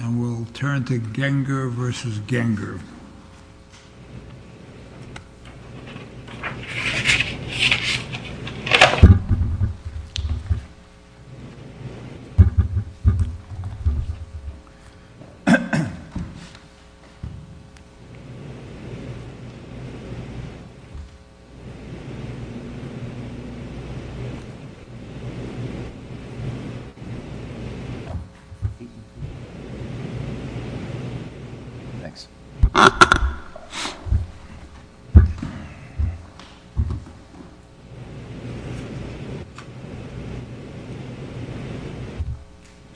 and we'll turn to Genger v. Genger. Thanks.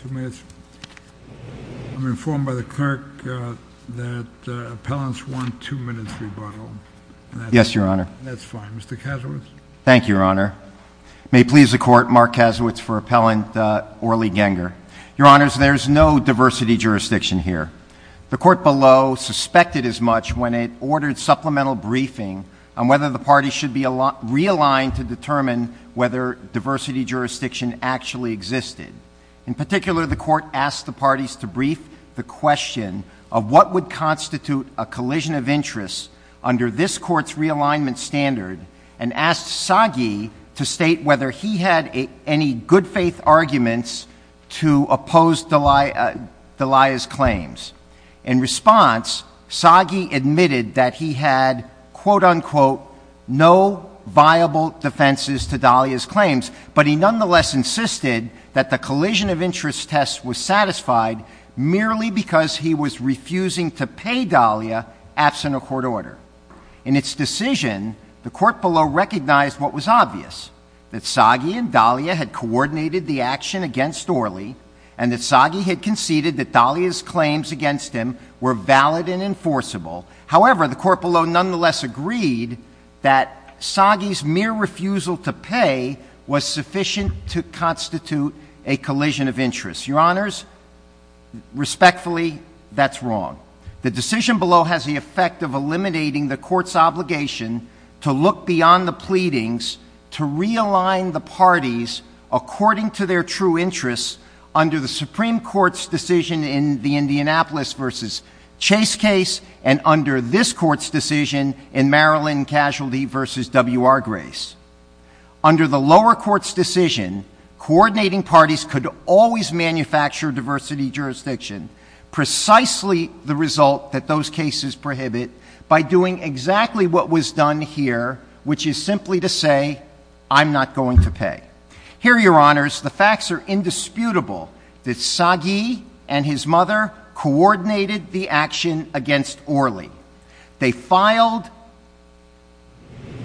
Two minutes. I'm informed by the clerk that appellants want two minutes rebuttal. Yes, Your Honor. That's fine. Mr. Kasowitz. Thank you, Your Honor. May it please the Court, Mark Kasowitz for appellant Orly Genger. Your Honors, there's no diversity jurisdiction here. The Court below suspected as much when it ordered supplemental briefing on whether the parties should be realigned to determine whether diversity jurisdiction actually existed. In particular, the Court asked the parties to brief the question of what would constitute a collision of interests under this Court's realignment standard and asked Sagi to state whether he had any good faith arguments to oppose Dahlia's claims. In response, Sagi admitted that he had, quote, unquote, no viable defenses to Dahlia's claims, but he nonetheless insisted that the collision of interests test was satisfied merely because he was refusing to pay Dahlia absent a court order. In its decision, the Court below recognized what was obvious, that Sagi and Dahlia had coordinated the action against Orly and that Sagi had conceded that Dahlia's claims against him were valid and enforceable. However, the Court below nonetheless agreed that Sagi's mere refusal to pay was sufficient to constitute a collision of interests. Your Honors, respectfully, that's wrong. The decision below has the effect of eliminating the Court's obligation to look beyond the pleadings to realign the parties according to their true interests under the Supreme Court's decision in the Indianapolis v. Chase case and under this Court's decision in Maryland Casualty v. W.R. Grace. Under the lower Court's decision, coordinating parties could always manufacture diversity jurisdiction, precisely the result that those cases prohibit, by doing exactly what was done here, which is simply to say, I'm not going to pay. Here, Your Honors, the facts are indisputable that Sagi and his mother coordinated the action against Orly. They filed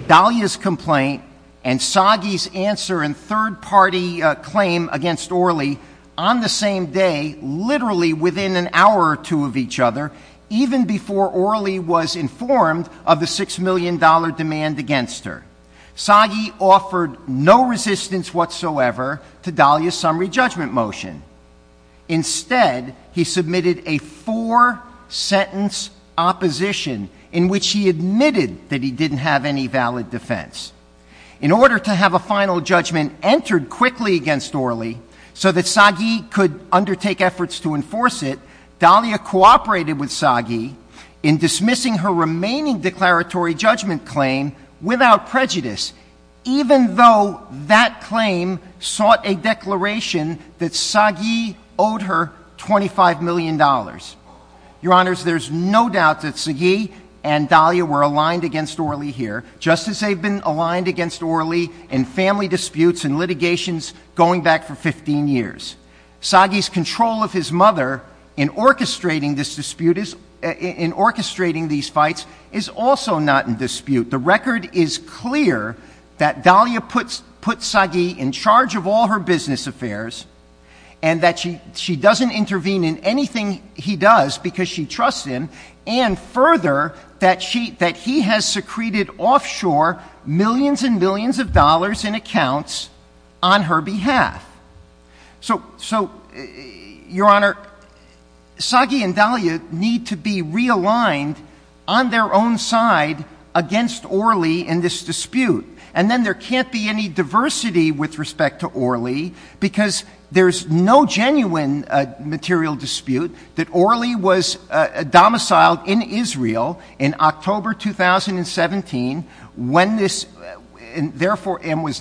Dahlia's complaint and Sagi's answer and third-party claim against Orly on the same day, literally within an hour or two of each other, even before Orly was informed of the $6 million demand against her. Sagi offered no resistance whatsoever to Dahlia's summary judgment motion. Instead, he submitted a four-sentence opposition in which he admitted that he didn't have any valid defense. In order to have a final judgment entered quickly against Orly so that Sagi could undertake efforts to enforce it, Dahlia cooperated with Sagi in dismissing her remaining declaratory judgment claim without prejudice, even though that claim sought a declaration that Sagi owed her $25 million. Your Honors, there's no doubt that Sagi and Dahlia were aligned against Orly here, just as they've been aligned against Orly in family disputes and litigations going back for 15 years. Sagi's control of his mother in orchestrating these fights is also not in dispute. The record is clear that Dahlia put Sagi in charge of all her business affairs and that she doesn't intervene in anything he does because she trusts him, and further, that he has secreted offshore millions and millions of dollars in accounts on her behalf. So, Your Honor, Sagi and Dahlia need to be realigned on their own side against Orly in this dispute. And then there can't be any diversity with respect to Orly because there's no genuine material dispute that Orly was domiciled in Israel in October 2017 and was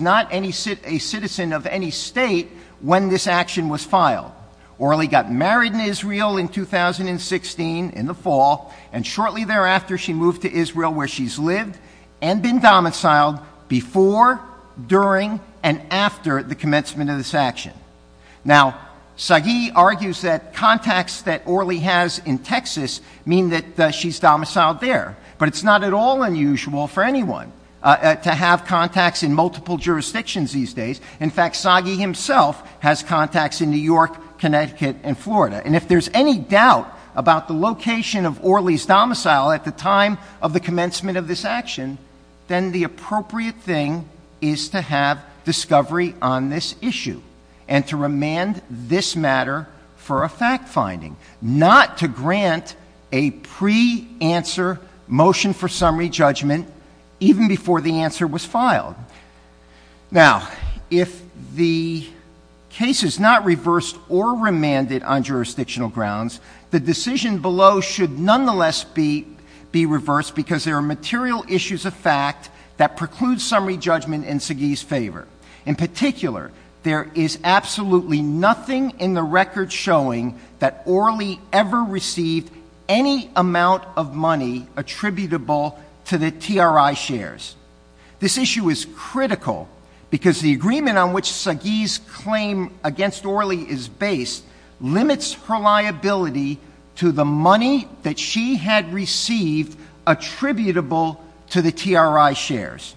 not a citizen of any state when this action was filed. Orly got married in Israel in 2016 in the fall, and shortly thereafter she moved to Israel where she's lived and been domiciled before, during, and after the commencement of this action. Now, Sagi argues that contacts that Orly has in Texas mean that she's domiciled there, but it's not at all unusual for anyone to have contacts in multiple jurisdictions these days. In fact, Sagi himself has contacts in New York, Connecticut, and Florida. And if there's any doubt about the location of Orly's domicile at the time of the commencement of this action, then the appropriate thing is to have discovery on this issue and to remand this matter for a fact-finding, not to grant a pre-answer motion for summary judgment even before the answer was filed. Now, if the case is not reversed or remanded on jurisdictional grounds, the decision below should nonetheless be reversed because there are material issues of fact that preclude summary judgment in Sagi's favor. In particular, there is absolutely nothing in the record showing that Orly ever received any amount of money attributable to the TRI shares. This issue is critical because the agreement on which Sagi's claim against Orly is based limits her liability to the money that she had received attributable to the TRI shares.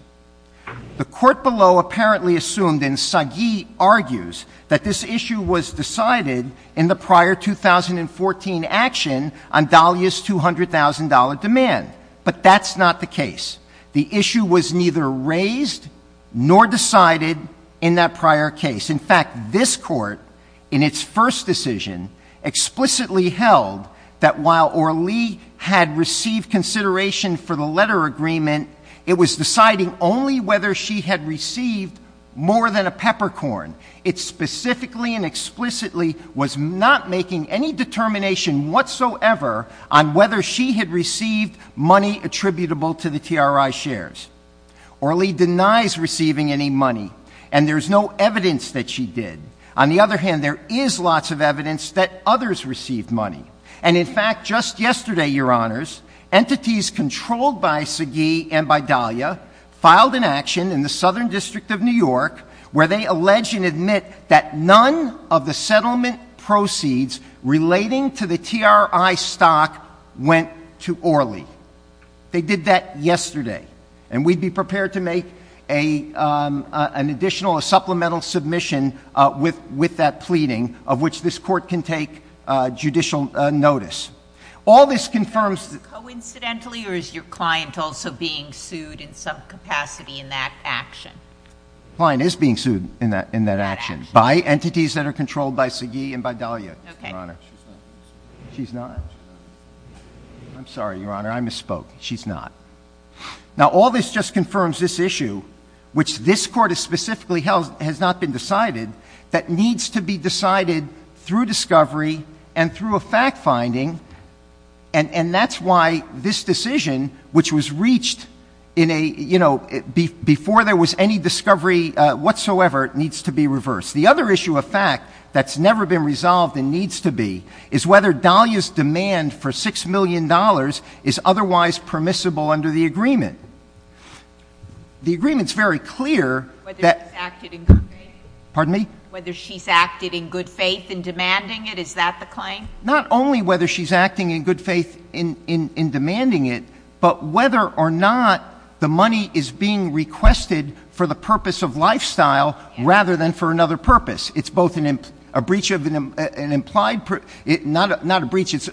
The court below apparently assumed, and Sagi argues, that this issue was decided in the prior 2014 action on Dahlia's $200,000 demand. But that's not the case. The issue was neither raised nor decided in that prior case. In fact, this court, in its first decision, explicitly held that while Orly had received consideration for the letter agreement, it was deciding only whether she had received more than a peppercorn. It specifically and explicitly was not making any determination whatsoever on whether she had received money attributable to the TRI shares. Orly denies receiving any money, and there's no evidence that she did. On the other hand, there is lots of evidence that others received money. And in fact, just yesterday, Your Honors, entities controlled by Sagi and by Dahlia filed an action in the Southern District of New York where they allege and admit that none of the settlement proceeds relating to the TRI stock went to Orly. They did that yesterday, and we'd be prepared to make an additional, a supplemental submission with that pleading, of which this court can take judicial notice. All this confirms... Coincidentally, or is your client also being sued in some capacity in that action? The client is being sued in that action by entities that are controlled by Sagi and by Dahlia, Your Honor. Okay. She's not? I'm sorry, Your Honor. I misspoke. She's not. Now, all this just confirms this issue, which this court has specifically held has not been decided, that needs to be decided through discovery and through a fact-finding, and that's why this decision, which was reached in a, you know, before there was any discovery whatsoever, needs to be reversed. The other issue of fact that's never been resolved and needs to be is whether Dahlia's demand for $6 million is otherwise permissible under the agreement. The agreement's very clear that... Whether she's acted in good faith. Pardon me? Whether she's acted in good faith in demanding it. Is that the claim? Not only whether she's acting in good faith in demanding it, but whether or not the money is being requested for the purpose of lifestyle rather than for another purpose. It's both a breach of an implied... Not a breach, it's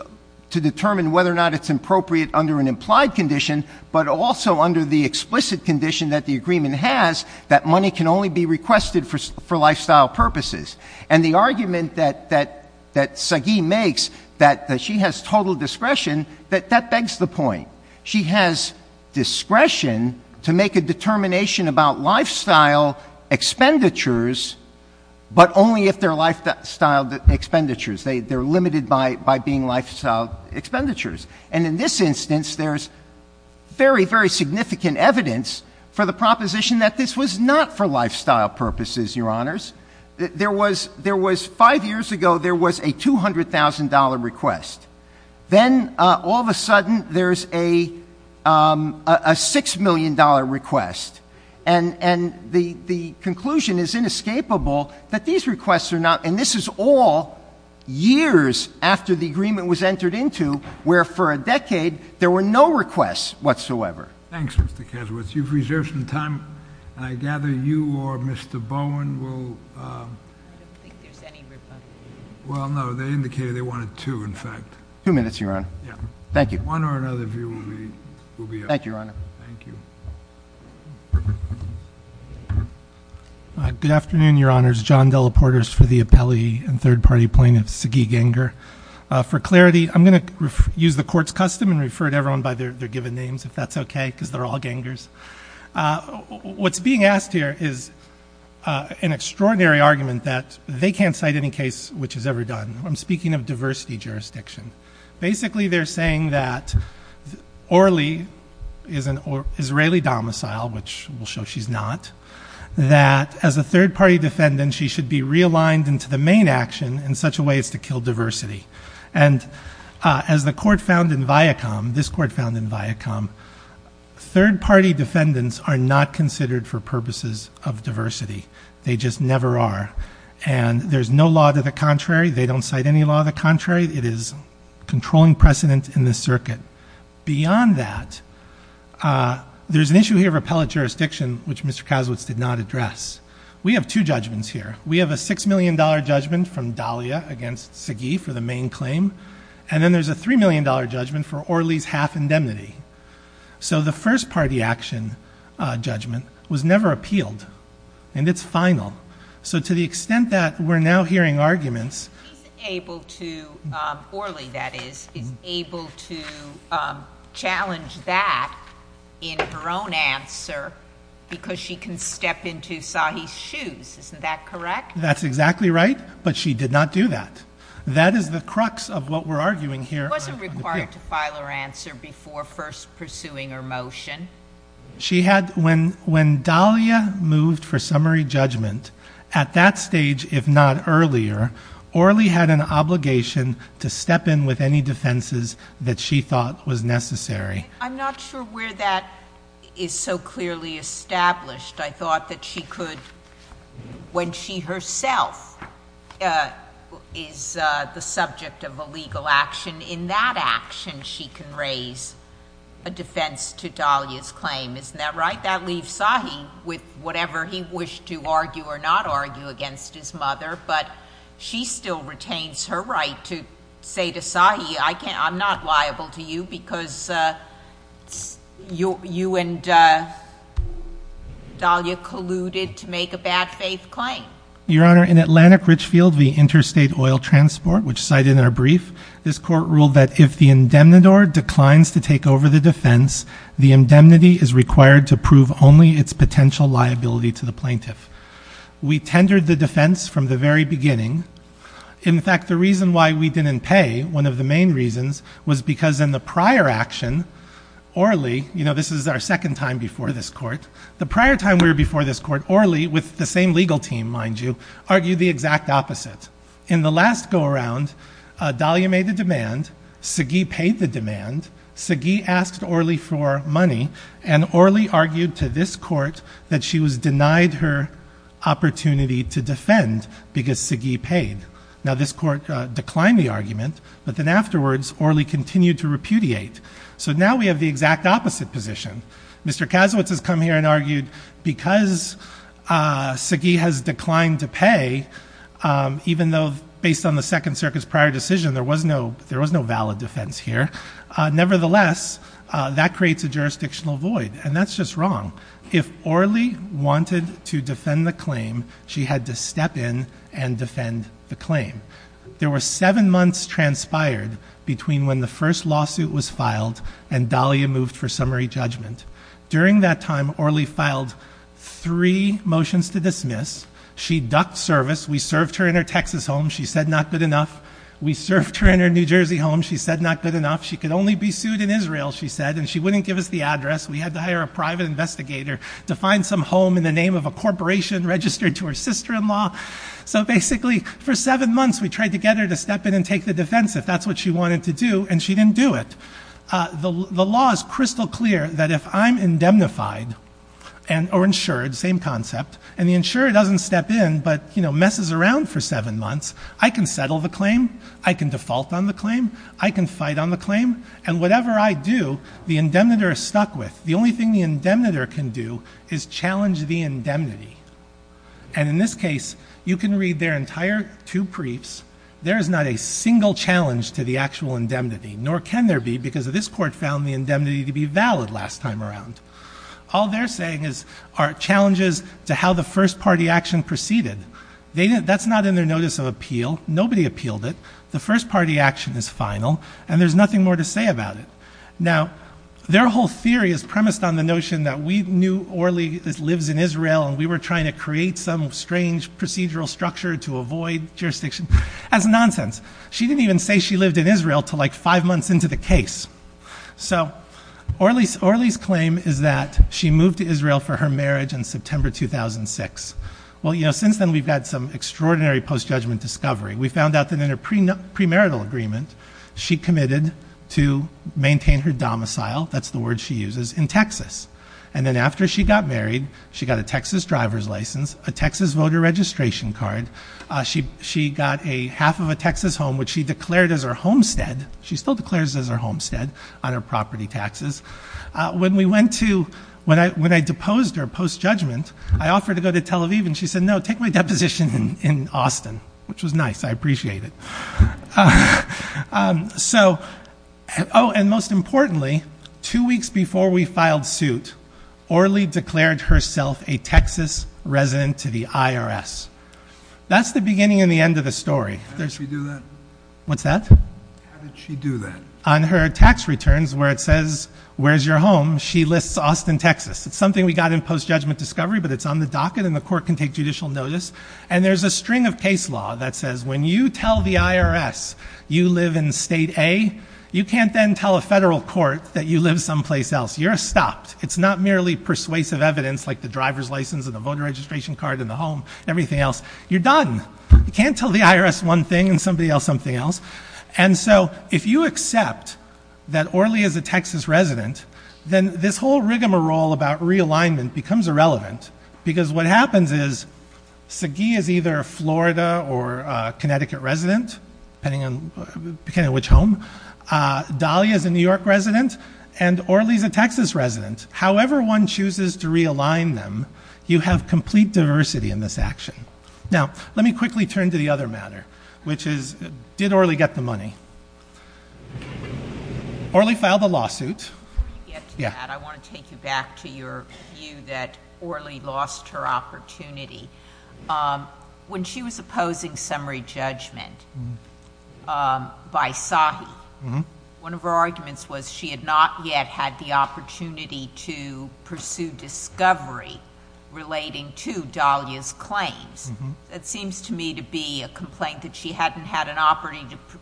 to determine whether or not it's appropriate under an implied condition, but also under the explicit condition that the agreement has that money can only be requested for lifestyle purposes. And the argument that Sagi makes that she has total discretion, that begs the point. She has discretion to make a determination about lifestyle expenditures, but only if they're lifestyle expenditures. They're limited by being lifestyle expenditures. And in this instance, there's very, very significant evidence for the proposition that this was not for lifestyle purposes, Your Honors. There was, five years ago, there was a $200,000 request. Then, all of a sudden, there's a $6 million request. And the conclusion is inescapable that these requests are not, and this is all years after the agreement was entered into where, for a decade, there were no requests whatsoever. Thanks, Mr. Kasowitz. You've reserved some time, and I gather you or Mr. Bowen will... I don't think there's any reply. Well, no. They indicated they wanted two, in fact. Two minutes, Your Honor. Yeah. Thank you. One or another view will be up. Thank you, Your Honor. Thank you. Good afternoon, Your Honors. John Dellaportis for the appellee and third-party plaintiff, Sagi Ganger. For clarity, I'm going to use the Court's custom and refer to everyone by their given names, if that's okay, because they're all Gangers. What's being asked here is an extraordinary argument that they can't cite any case which is ever done. I'm speaking of diversity jurisdiction. Basically, they're saying that Orly is an Israeli domicile, which will show she's not, that as a third-party defendant, she should be realigned into the main action in such a way as to kill diversity. As the court found in Viacom, this court found in Viacom, third-party defendants are not considered for purposes of diversity. They just never are. There's no law to the contrary. They don't cite any law to the contrary. It is controlling precedent in the circuit. Beyond that, there's an issue here of appellate jurisdiction, which Mr. Kasowitz did not address. We have two judgments here. We have a $6 million judgment from Dahlia against Sagi for the main claim, and then there's a $3 million judgment for Orly's half-indemnity. So the first-party action judgment was never appealed, and it's final. So to the extent that we're now hearing arguments... She's able to, Orly, that is, is able to challenge that in her own answer because she can step into Sagi's shoes. Isn't that correct? That's exactly right, but she did not do that. That is the crux of what we're arguing here. She wasn't required to file her answer before first pursuing her motion. When Dahlia moved for summary judgment, at that stage, if not earlier, Orly had an obligation to step in with any defenses that she thought was necessary. I'm not sure where that is so clearly established. I thought that she could, when she herself is the subject of a legal action, in that action she can raise a defense to Dahlia's claim. Isn't that right? That leaves Sagi with whatever he wished to argue or not argue against his mother, but she still retains her right to say to Sagi, I'm not liable to you because you and Dahlia colluded to make a bad faith claim. Your Honor, in Atlantic Richfield v. Interstate Oil Transport, which cited in our brief, this court ruled that if the indemnador declines to take over the defense, the indemnity is required to prove only its potential liability to the plaintiff. We tendered the defense from the very beginning. In fact, the reason why we didn't pay, one of the main reasons, was because in the prior action, Orly, this is our second time before this court, the prior time we were before this court, Orly, with the same legal team, mind you, argued the exact opposite. In the last go-around, Dahlia made the demand, Sagi paid the demand, Sagi asked Orly for money, and Orly argued to this court that she was denied her opportunity to defend because Sagi paid. Now this court declined the argument, but then afterwards Orly continued to repudiate. So now we have the exact opposite position. Mr. Kazowitz has come here and argued because Sagi has declined to pay, even though based on the Second Circuit's prior decision there was no valid defense here, nevertheless, that creates a jurisdictional void, and that's just wrong. If Orly wanted to defend the claim, she had to step in and defend the claim. There were seven months transpired between when the first lawsuit was filed and Dahlia moved for summary judgment. During that time, Orly filed three motions to dismiss. She ducked service. We served her in her Texas home. She said not good enough. We served her in her New Jersey home. She said not good enough. She could only be sued in Israel, she said, and she wouldn't give us the address. We had to hire a private investigator to find some home in the name of a corporation registered to her sister-in-law. So basically for seven months we tried to get her to step in and take the defense if that's what she wanted to do, and she didn't do it. The law is crystal clear that if I'm indemnified or insured, same concept, and the insurer doesn't step in but messes around for seven months, I can settle the claim, I can default on the claim, I can fight on the claim, and whatever I do, the indemnitor is stuck with. The only thing the indemnitor can do is challenge the indemnity. And in this case, you can read their entire two briefs. There is not a single challenge to the actual indemnity, nor can there be because this court found the indemnity to be valid last time around. All they're saying are challenges to how the first-party action proceeded. That's not in their notice of appeal. Nobody appealed it. The first-party action is final, and there's nothing more to say about it. Now, their whole theory is premised on the notion that we knew Orly lives in Israel and we were trying to create some strange procedural structure to avoid jurisdiction. That's nonsense. She didn't even say she lived in Israel until like five months into the case. So Orly's claim is that she moved to Israel for her marriage in September 2006. Well, you know, since then we've had some extraordinary post-judgment discovery. We found out that in her premarital agreement, she committed to maintain her domicile, that's the word she uses, in Texas. And then after she got married, she got a Texas driver's license, a Texas voter registration card. She got half of a Texas home, which she declared as her homestead. She still declares it as her homestead on her property taxes. When I deposed her post-judgment, I offered to go to Tel Aviv, and she said, no, take my deposition in Austin, which was nice. I appreciate it. So, oh, and most importantly, two weeks before we filed suit, Orly declared herself a Texas resident to the IRS. That's the beginning and the end of the story. How did she do that? What's that? How did she do that? On her tax returns where it says, where's your home, she lists Austin, Texas. It's something we got in post-judgment discovery, but it's on the docket, and the court can take judicial notice. And there's a string of case law that says when you tell the IRS you live in State A, you can't then tell a federal court that you live someplace else. You're stopped. It's not merely persuasive evidence like the driver's license and the voter registration card and the home and everything else. You're done. You can't tell the IRS one thing and somebody else something else. And so if you accept that Orly is a Texas resident, then this whole rigmarole about realignment becomes irrelevant because what happens is Sagi is either a Florida or Connecticut resident, depending on which home. Dolly is a New York resident, and Orly is a Texas resident. However one chooses to realign them, you have complete diversity in this action. Now, let me quickly turn to the other matter, which is, did Orly get the money? Orly filed a lawsuit. Before you get to that, I want to take you back to your view that Orly lost her opportunity. When she was opposing summary judgment by Sagi, one of her arguments was she had not yet had the opportunity to pursue discovery relating to Dolly's claims. It seems to me to be a complaint that she hadn't had an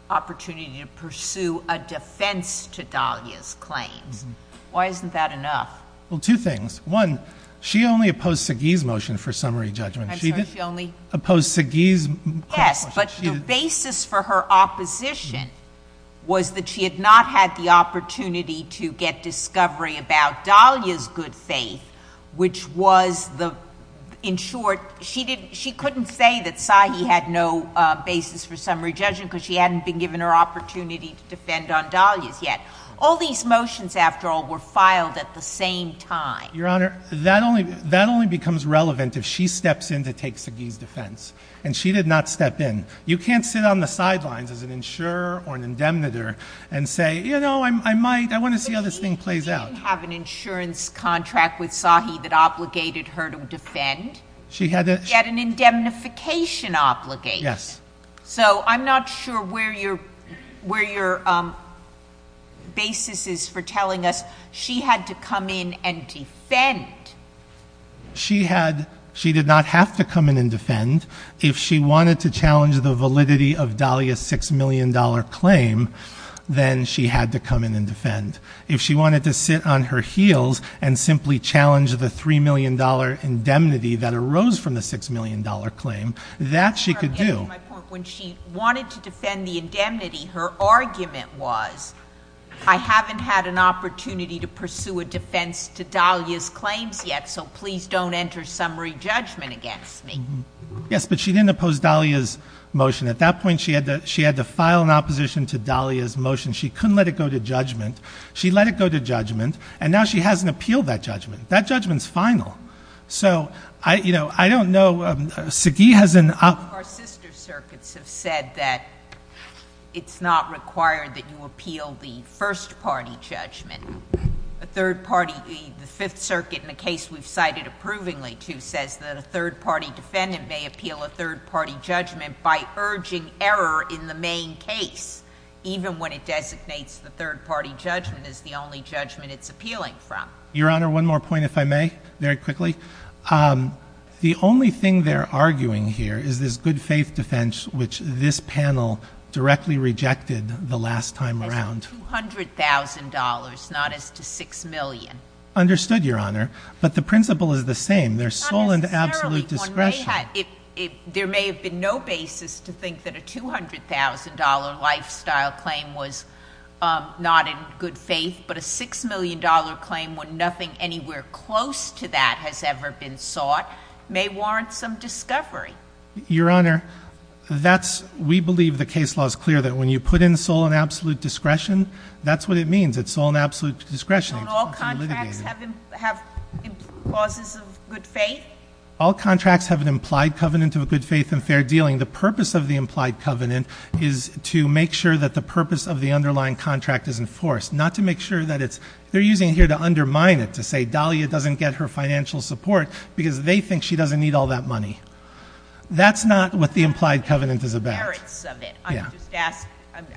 opportunity to pursue a defense to Dolly's claims. Why isn't that enough? Well, two things. One, she only opposed Sagi's motion for summary judgment. I'm sorry, she only? Opposed Sagi's motion. Yes, but the basis for her opposition was that she had not had the opportunity to get discovery about Dolly's good faith, which was the, in short, she couldn't say that Sagi had no basis for summary judgment because she hadn't been given her opportunity to defend on Dolly's yet. All these motions, after all, were filed at the same time. Your Honor, that only becomes relevant if she steps in to take Sagi's defense, and she did not step in. You can't sit on the sidelines as an insurer or an indemnitor and say, you know, I might, I want to see how this thing plays out. She didn't have an insurance contract with Sagi that obligated her to defend. She had an indemnification obligation. Yes. So I'm not sure where your basis is for telling us she had to come in and defend. She did not have to come in and defend. If she wanted to challenge the validity of Dolly's $6 million claim, then she had to come in and defend. If she wanted to sit on her heels and simply challenge the $3 million indemnity that arose from the $6 million claim, that she could do. When she wanted to defend the indemnity, her argument was, I haven't had an opportunity to pursue a defense to Dolly's claims yet, so please don't enter summary judgment against me. Yes, but she didn't oppose Dolly's motion. At that point, she had to file an opposition to Dolly's motion. She couldn't let it go to judgment. She let it go to judgment, and now she hasn't appealed that judgment. That judgment's final. So, you know, I don't know. Sagi has an— Our sister circuits have said that it's not required that you appeal the first-party judgment. A third-party, the Fifth Circuit, in a case we've cited approvingly to, says that a third-party defendant may appeal a third-party judgment by urging error in the main case, even when it designates the third-party judgment as the only judgment it's appealing from. Your Honor, one more point, if I may, very quickly. The only thing they're arguing here is this good-faith defense, which this panel directly rejected the last time around. As to $200,000, not as to $6 million. Understood, Your Honor. But the principle is the same. There's sole and absolute discretion. There may have been no basis to think that a $200,000 lifestyle claim was not in good faith, but a $6 million claim when nothing anywhere close to that has ever been sought may warrant some discovery. Your Honor, we believe the case law is clear that when you put in sole and absolute discretion, that's what it means. It's sole and absolute discretion. Don't all contracts have clauses of good faith? All contracts have an implied covenant of a good faith and fair dealing. The purpose of the implied covenant is to make sure that the purpose of the underlying contract is enforced, not to make sure that it's, they're using it here to undermine it, to say Dahlia doesn't get her financial support because they think she doesn't need all that money. That's not what the implied covenant is about.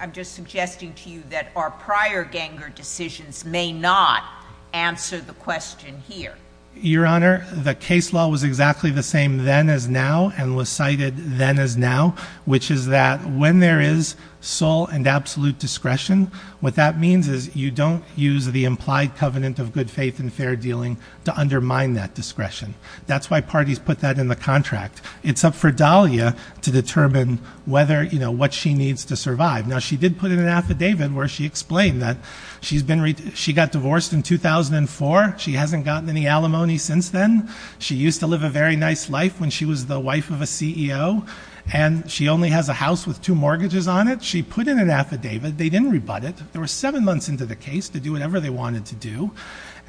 I'm just suggesting to you that our prior Ganger decisions may not answer the question here. Your Honor, the case law was exactly the same then as now and was cited then as now, which is that when there is sole and absolute discretion, what that means is you don't use the implied covenant of good faith and fair dealing to undermine that discretion. That's why parties put that in the contract. It's up for Dahlia to determine whether, you know, what she needs to survive. Now, she did put in an affidavit where she explained that she's been, she got divorced in 2004. She hasn't gotten any alimony since then. She used to live a very nice life when she was the wife of a CEO, and she only has a house with two mortgages on it. She put in an affidavit. They didn't rebut it. They were seven months into the case to do whatever they wanted to do,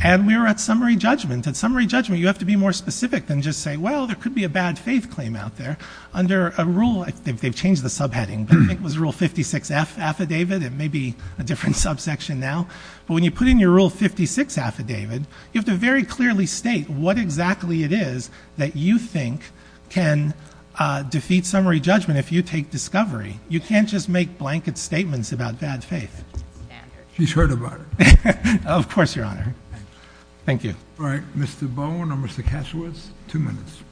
and we were at summary judgment. At summary judgment, you have to be more specific than just say, well, there could be a bad faith claim out there. Under a rule, they've changed the subheading, but I think it was Rule 56F Affidavit. It may be a different subsection now. But when you put in your Rule 56 Affidavit, you have to very clearly state what exactly it is that you think can defeat summary judgment if you take discovery. You can't just make blanket statements about bad faith. She's heard about it. Of course, Your Honor. Thank you. All right. Mr. Bowen or Mr. Kasiewicz, two minutes.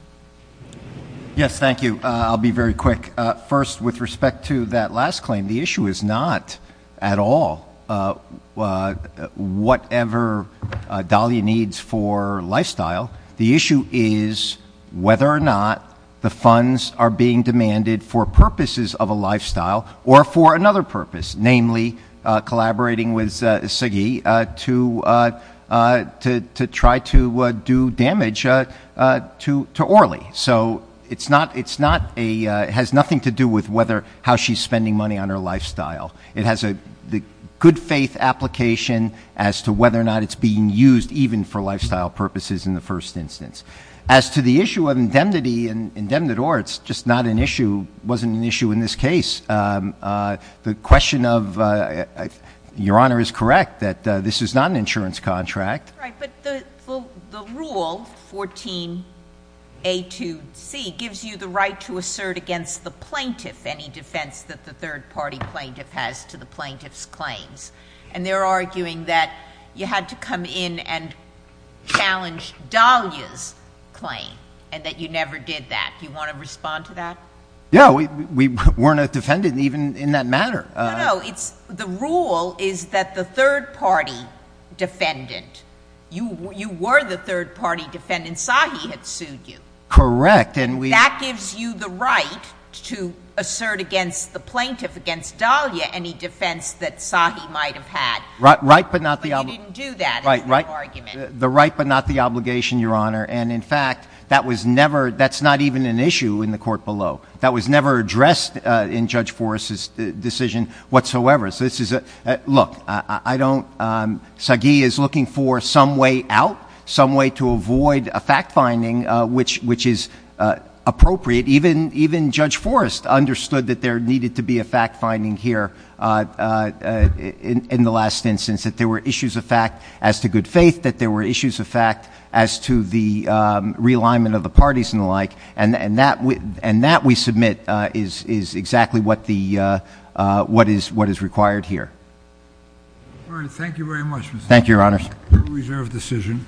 Yes, thank you. I'll be very quick. First, with respect to that last claim, the issue is not at all whatever Dahlia needs for lifestyle. The issue is whether or not the funds are being demanded for purposes of a lifestyle or for another purpose, namely collaborating with Sagi to try to do damage to Orly. So it has nothing to do with how she's spending money on her lifestyle. It has the good faith application as to whether or not it's being used even for lifestyle purposes in the first instance. As to the issue of indemnity and indemnit or, it's just not an issue, wasn't an issue in this case. The question of, Your Honor is correct that this is not an insurance contract. Right. But the rule, 14A2C, gives you the right to assert against the plaintiff any defense that the third-party plaintiff has to the plaintiff's claims. And they're arguing that you had to come in and challenge Dahlia's claim and that you never did that. Do you want to respond to that? Yeah. We weren't a defendant even in that matter. No, no. The rule is that the third-party defendant, you were the third-party defendant. Sagi had sued you. Correct. That gives you the right to assert against the plaintiff, against Dahlia, any defense that Sagi might have had. Right, but not the obligation. But you didn't do that. It's the argument. The right but not the obligation, Your Honor. And, in fact, that was never, that's not even an issue in the court below. That was never addressed in Judge Forrest's decision whatsoever. So this is a, look, I don't, Sagi is looking for some way out, some way to avoid a fact-finding which is appropriate. Even Judge Forrest understood that there needed to be a fact-finding here in the last instance, that there were issues of fact as to good faith, that there were issues of fact as to the realignment of the parties and the like. And that we submit is exactly what the, what is required here. All right. Thank you very much, Mr. Chief. Thank you, Your Honor. Reserve decision.